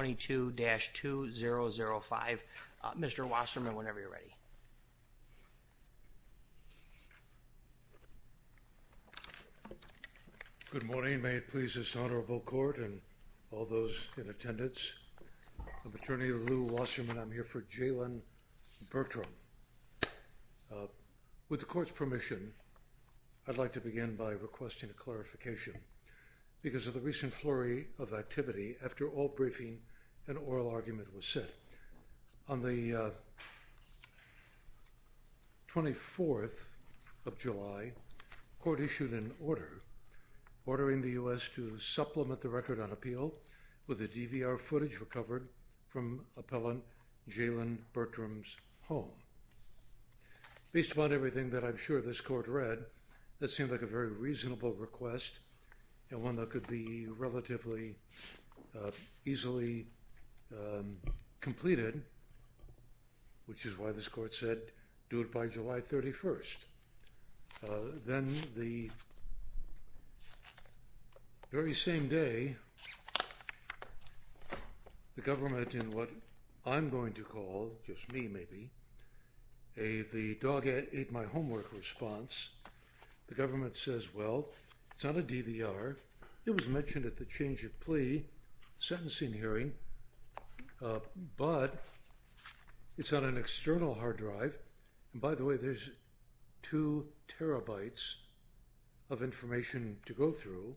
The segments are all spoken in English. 22-2005. Mr. Wasserman whenever you're ready. Good morning may it please this honorable court and all those in attendance. I'm attorney Lou Wasserman. I'm here for Jaylin Bertram. With the court's permission I'd like to begin by requesting a clarification because of the recent flurry of activity after all briefing and oral argument was set. On the 24th of July court issued an order ordering the U.S. to supplement the record on appeal with the DVR footage recovered from appellant Jaylin Bertram's home. Based upon everything that I'm sure this court read that seemed like a very relatively easily completed which is why this court said do it by July 31st. Then the very same day the government in what I'm going to call just me maybe a the dog ate my homework response the government says well it's not a DVR it was mentioned at the change of plea sentencing hearing but it's on an external hard drive and by the way there's two terabytes of information to go through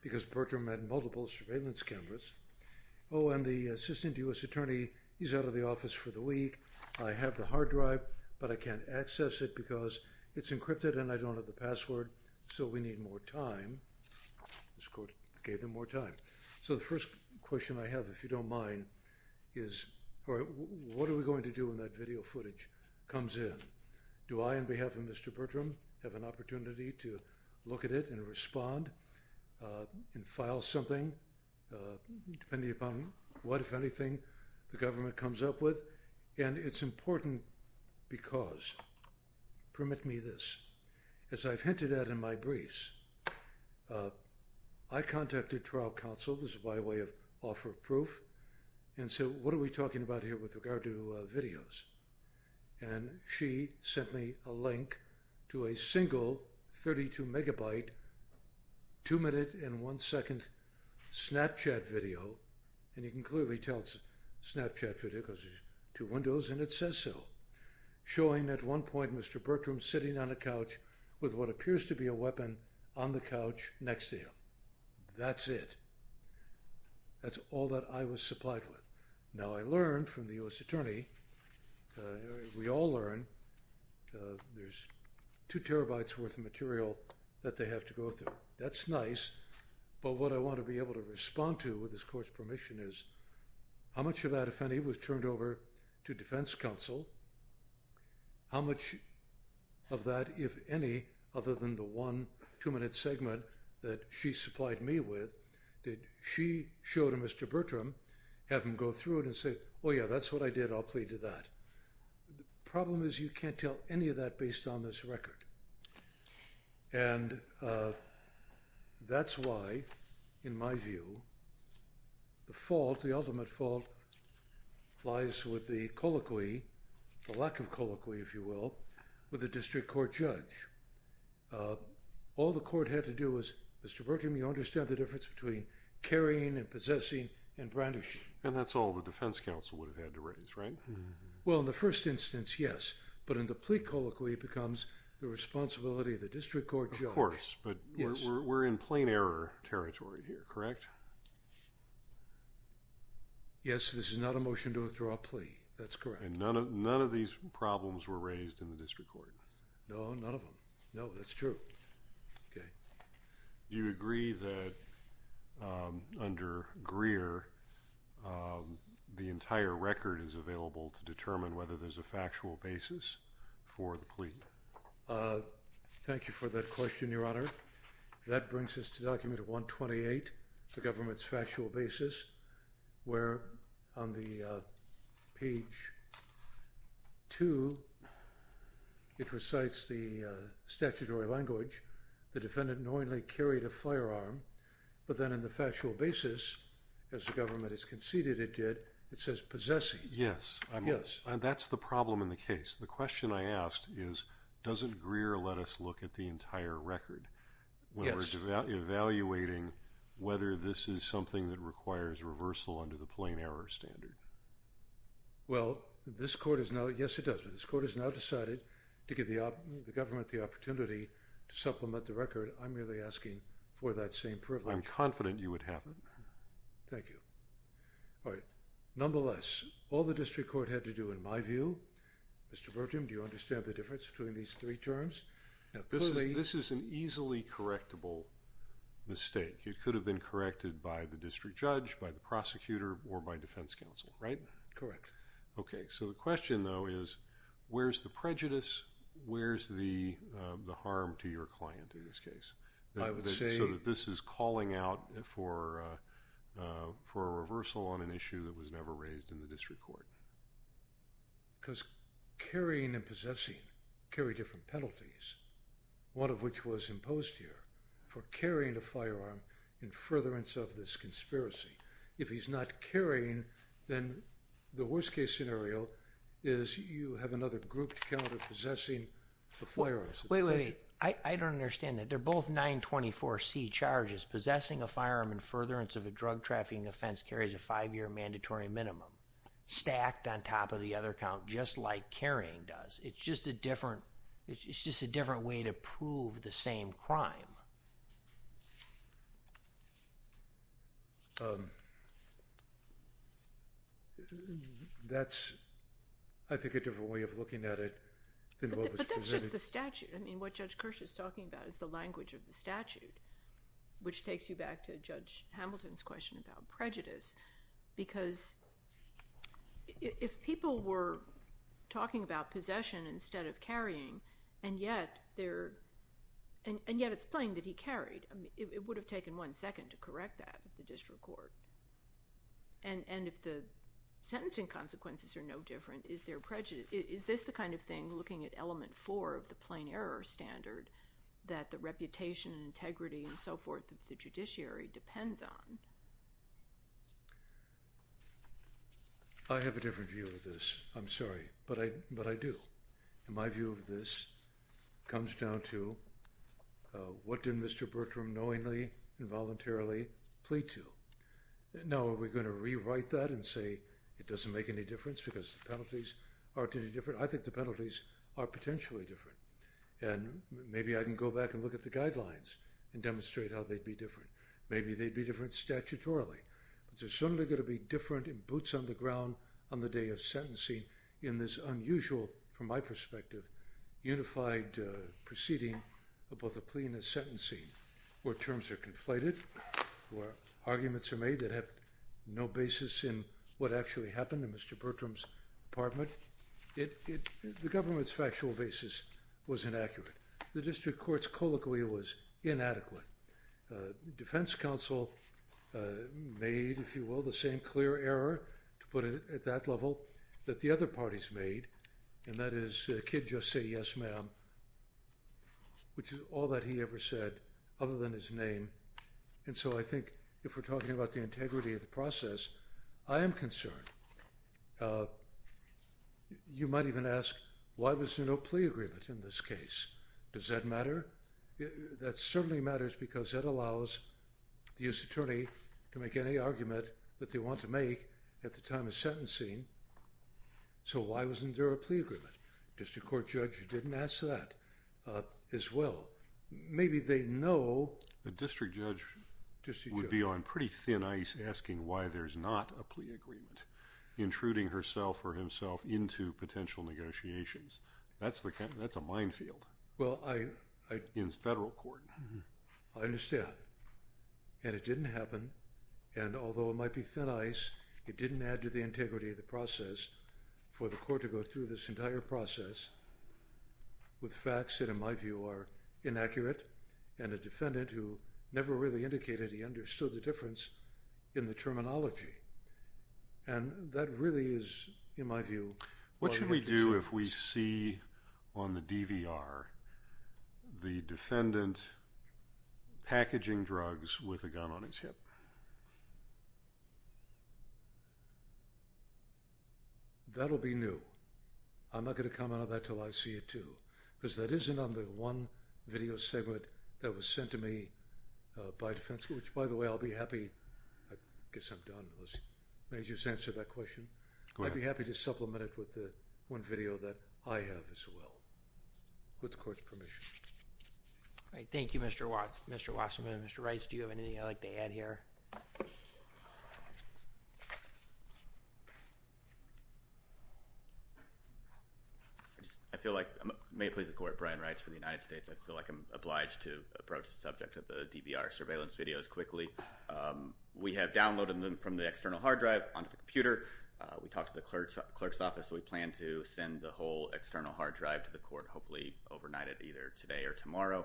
because Bertram had multiple surveillance cameras. Oh and the assistant U.S. attorney he's out of the office for the week I have the hard drive but I can't access it because it's encrypted and I don't have the password so we need more time. This court gave them more time. So the first question I have if you don't mind is what are we going to do when that video footage comes in? Do I on behalf of Mr. Bertram have an opportunity to look at it and respond and file something depending upon what if anything the government in my briefs I contacted trial counsel this is by way of offer proof and so what are we talking about here with regard to videos and she sent me a link to a single 32 megabyte two minute and one second snapchat video and you can clearly tell it's a snapchat video because there's two windows and it says so showing at one point Mr. Bertram sitting on a couch with what appears to be a weapon on the couch next to him. That's it. That's all that I was supplied with. Now I learned from the U.S. attorney we all learn there's two terabytes worth of material that they have to go through. That's nice but what I want to be able to respond to with this court's permission is how much of that if any was turned over to defense counsel how much of that if any other than the one two minute segment that she supplied me with did she show to Mr. Bertram have him go through it and say oh yeah that's what I did I'll plead to that. The problem is you can't tell any of that based on this record and that's why in my view the fault the ultimate fault lies with the colloquy the lack of colloquy if you will with a district court judge. All the court had to do was Mr. Bertram you understand the difference between carrying and possessing and brandishing. And that's all the defense counsel would have had to raise right? Well in the first instance yes but in the plea colloquy becomes the responsibility of the district court judge. Of course but we're in plain error territory here correct? Yes this is not a motion to withdraw a plea that's correct. And none of none of these problems were raised in the district court? No none of them no that's true okay. Do you agree that under Greer the entire record is available to determine whether there's a for that question your honor. That brings us to document 128 the government's factual basis where on the page 2 it recites the statutory language the defendant knowingly carried a firearm but then in the factual basis as the government has conceded it did it says possessing. Yes yes and that's the problem in the case the question I asked is doesn't Greer let us look at the entire record yes evaluating whether this is something that requires reversal under the plain error standard. Well this court is now yes it does but this court has now decided to give the government the opportunity to supplement the record I'm really asking for that same privilege. I'm confident you would have it. Thank you. All right nonetheless all the district court had to do in my view Mr. Bertram do you understand the difference between these three terms now this is this is an easily correctable mistake it could have been corrected by the district judge by the prosecutor or by defense counsel right. Correct. Okay so the question though is where's the prejudice where's the the harm to your client in this case. I would say this is calling out for for a reversal on an issue that was never raised in the district court. Because carrying and one of which was imposed here for carrying a firearm in furtherance of this conspiracy if he's not carrying then the worst-case scenario is you have another group to counter possessing the firearms. Wait wait I don't understand that they're both 924 C charges possessing a firearm in furtherance of a drug trafficking offense carries a five-year mandatory minimum stacked on top of the other count just like carrying does it's just a different it's the same crime. That's I think a different way of looking at it. But that's just the statute I mean what Judge Kirsch is talking about is the language of the statute which takes you back to Judge Hamilton's question about prejudice because if people were talking about possession instead of carrying and yet they're and yet it's plain that he carried I mean it would have taken one second to correct that at the district court and and if the sentencing consequences are no different is there prejudice is this the kind of thing looking at element four of the plain error standard that the reputation and integrity and so forth of the judiciary depends on. I have a different view of I'm sorry but I but I do in my view of this comes down to what did Mr. Bertram knowingly involuntarily plead to. Now are we going to rewrite that and say it doesn't make any difference because the penalties aren't any different I think the penalties are potentially different and maybe I can go back and look at the guidelines and demonstrate how they'd be different maybe they'd be different statutorily but there's certainly going to be different in boots on the ground on the day of sentencing in this unusual from my perspective unified proceeding of both a plea and a sentencing where terms are conflated where arguments are made that have no basis in what actually happened in Mr. Bertram's apartment it the government's factual basis was inaccurate the district courts colloquially was inadequate. The defense counsel made if you will the same clear error to put it at that level that the other parties made and that is kid just say yes ma'am which is all that he ever said other than his name and so I think if we're talking about the integrity of the process I am concerned you might even ask why was there no plea agreement in this case does that matter that certainly matters because that allows the US attorney to make any argument that they want to make at the time of sentencing so why wasn't there a plea agreement just a court judge who didn't ask that as well maybe they know the district judge just you would be on pretty thin ice asking why there's not a plea agreement intruding herself or himself into potential negotiations that's the camp that's a minefield well I in federal court I understand and it didn't happen and although it might be thin ice it didn't add to the integrity of the process for the court to go through this entire process with facts that in my view are inaccurate and a defendant who never really indicated he understood the difference in the terminology and that really is in my view what should we do if we see on the DVR the defendant packaging drugs with a gun on its hip that'll be new I'm not going to comment on that till I see it too because that isn't on the one video segment that was sent to me by defense which by the way I'll be happy I guess I'm done unless they just answer that question I'd be happy to supplement it with the one video that I have as well with courts permission all right Thank You mr. Watts mr. Wasserman mr. Rice do you have anything I like to add here I feel like may please the court Brian writes for the United States I feel like I'm obliged to approach the subject of the DVR surveillance videos quickly we have downloaded them from the external hard drive on the computer we talked to the clerk's clerk's office we plan to send the whole external hard drive to the court hopefully overnight at either today or tomorrow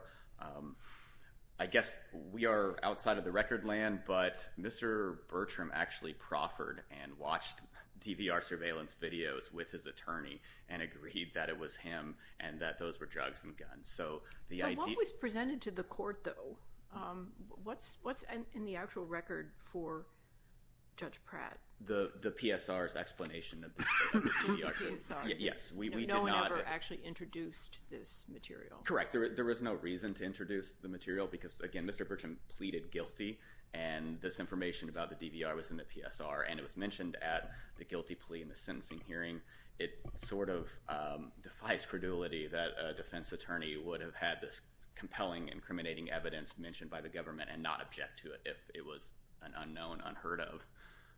I guess we are outside of the record land but mr. Bertram actually proffered and watched DVR surveillance videos with his attorney and agreed that it was him and that those were drugs and guns so the ID was presented to the court though what's what's in the actual record for Judge Pratt the the PSRs explanation yes we actually introduced this material correct there was no reason to introduce the material because again mr. Bertram pleaded guilty and this information about the DVR was in the PSR and it was mentioned at the guilty plea in the sentencing hearing it sort of defies credulity that a defense attorney would have had this compelling incriminating evidence mentioned by the government and not object to it if it was an unknown unheard of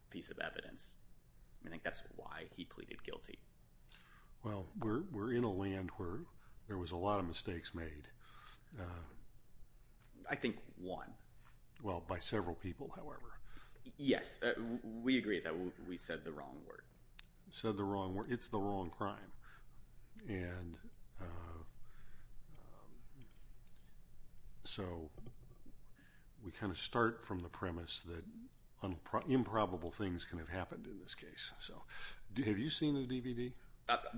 piece of evidence I think that's why he pleaded guilty well we're in a land where there was a lot of mistakes made I think one well by several people however yes we agree that we said the wrong word said the wrong word it's the wrong crime and so we kind of start from the premise that improbable things can have happened in this case so do you have you seen the DVD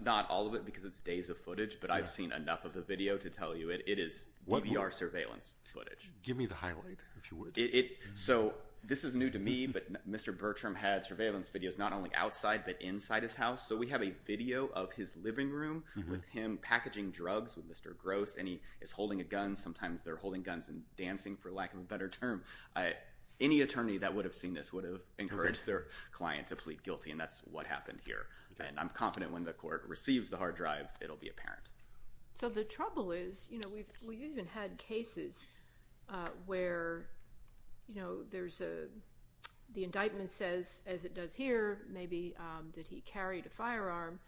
not all of it because it's days of footage but I've seen enough of the video to tell you it it is what we are surveillance footage give me the highlight if you would it so this is new to me but mr. Bertram had surveillance videos not only outside but inside his house so we have a video of his living room with him packaging drugs with mr. gross and he is holding a gun sometimes they're holding guns and dancing for lack of a better term I any attorney that would have seen this would have encouraged their client to plead guilty and that's what happened here and I'm confident when the court receives the hard drive it'll be apparent so the trouble is you know we've even had cases where you know there's a the indictment says as it does here maybe that he carried a firearm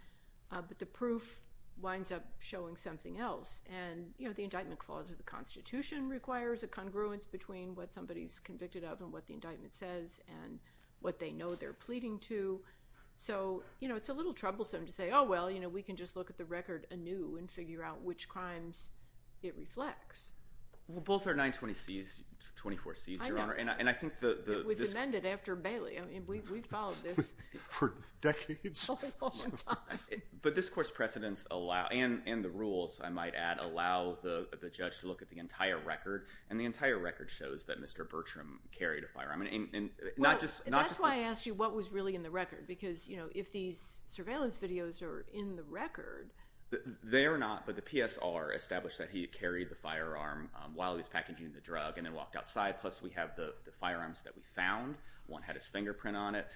but the proof winds up showing something else and you know the indictment clause of the Constitution requires a congruence between what somebody's convicted of and what the indictment says and what they know they're pleading to so you know it's a little troublesome to say oh well you know we can just look at the record a new and figure out which crimes it both are 920 C's 24 C's your honor and I think the amended after Bailey I mean we followed this for decades but this course precedents allow and and the rules I might add allow the judge to look at the entire record and the entire record shows that mr. Bertram carried a firearm and not just that's why I asked you what was really in the record because you know if these surveillance videos are in the record they're not but the PSR established that he carried the packaging the drug and then walked outside plus we have the the firearms that we found one had his fingerprint on it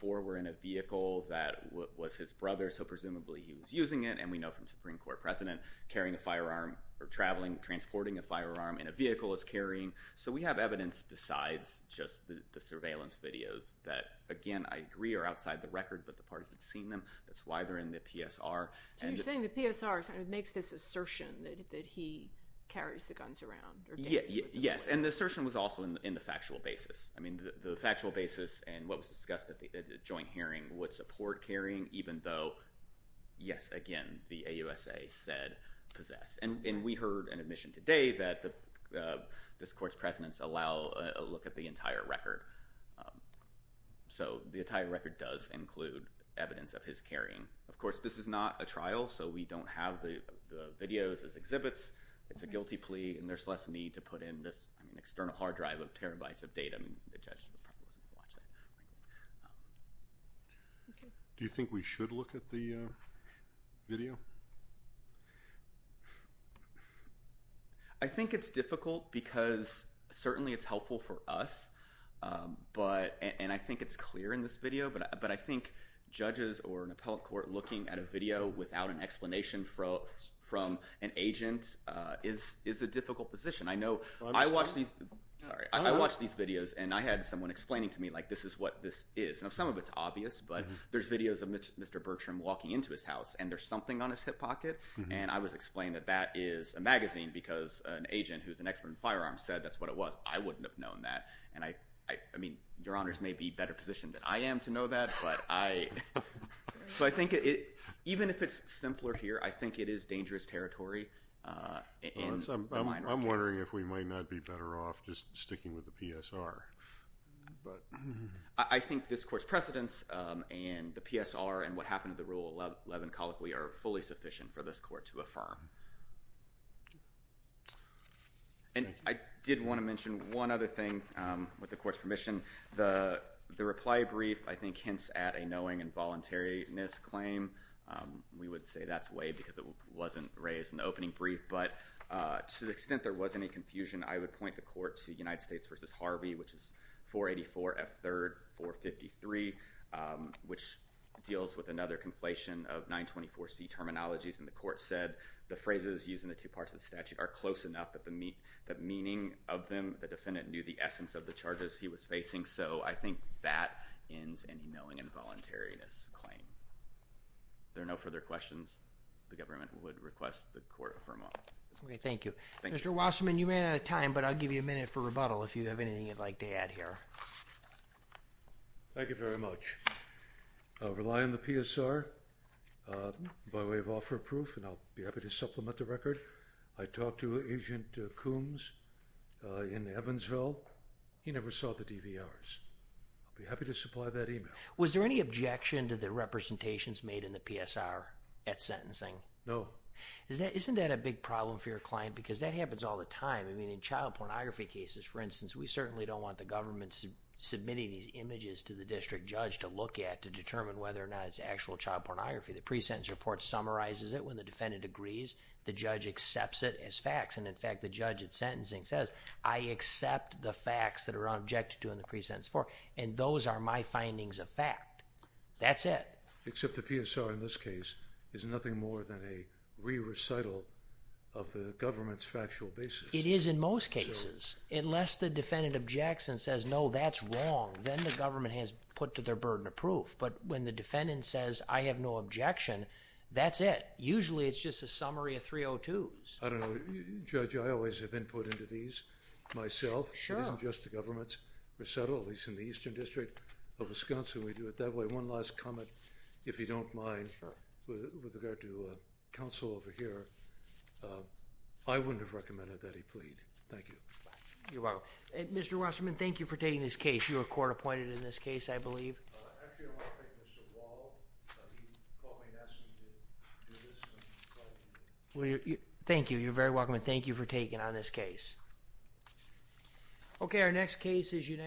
for we're in a vehicle that was his brother so presumably he was using it and we know from Supreme Court precedent carrying a firearm or traveling transporting a firearm in a vehicle is carrying so we have evidence besides just the surveillance videos that again I agree are outside the record but the parties had seen them that's why they're in the PSR and you're saying the PSR it makes this assertion that he carries the yes and the assertion was also in the factual basis I mean the factual basis and what was discussed at the joint hearing would support carrying even though yes again the a USA said possess and we heard an admission today that the discourse precedents allow a look at the entire record so the entire record does include evidence of his carrying of course this is not a trial so we don't have the videos as exhibits it's a guilty plea and there's less need to put in this external hard drive of terabytes of data do you think we should look at the video I think it's difficult because certainly it's helpful for us but and I think it's clear in this video but but I think judges or an appellate court looking at a video without an explanation from from an agent is is a difficult position I know I watch these sorry I watch these videos and I had someone explaining to me like this is what this is now some of its obvious but there's videos of mr. Bertram walking into his house and there's something on his hip pocket and I was explained that that is a magazine because an agent who's an expert in firearms said that's what it was I wouldn't have known that and I I mean your honors may be better positioned than I am to know that but I so I think it even if it's simpler here I think it is dangerous territory I'm wondering if we might not be better off just sticking with the PSR but I think this court's precedents and the PSR and what happened to the rule 11 colic we are fully sufficient for this court to affirm and I did want to mention one other thing with the court's permission the the reply brief I think hints at a knowing involuntariness claim we would say that's way because it wasn't raised in the opening brief but to the extent there was any confusion I would point the court to United States versus Harvey which is 484 f-3rd 453 which deals with another conflation of 924 C terminologies and the court said the phrases using the two parts of the statute are close enough that the meat that meaning of them the defendant knew the essence of the charges he was facing so I think that ends any knowing involuntariness claim there are no further questions the government would request the court affirm on thank you mr. Wasserman you ran out of time but I'll give you a minute for rebuttal if you have anything you'd like to add here thank you very much rely on the PSR by way of offer proof and I'll be happy to supplement the be happy to supply that email was there any objection to the representations made in the PSR at sentencing no is that isn't that a big problem for your client because that happens all the time I mean in child pornography cases for instance we certainly don't want the government's submitting these images to the district judge to look at to determine whether or not it's actual child pornography the pre-sentence report summarizes it when the defendant agrees the judge accepts it as facts and in fact the judge at sentencing says I accept the facts that are objected to in the pre-sentence for and those are my findings of fact that's it except the PSR in this case is nothing more than a re-recital of the government's factual basis it is in most cases unless the defendant objects and says no that's wrong then the government has put to their burden of proof but when the defendant says I have no objection that's it usually it's just a least in the eastern district of Wisconsin we do it that way one last comment if you don't mind with regard to counsel over here I wouldn't have recommended that he plead thank you well mr. Wasserman thank you for taking this case you were court-appointed in this case I believe well you thank you you're very welcome and thank you for taking on this case okay our next case is you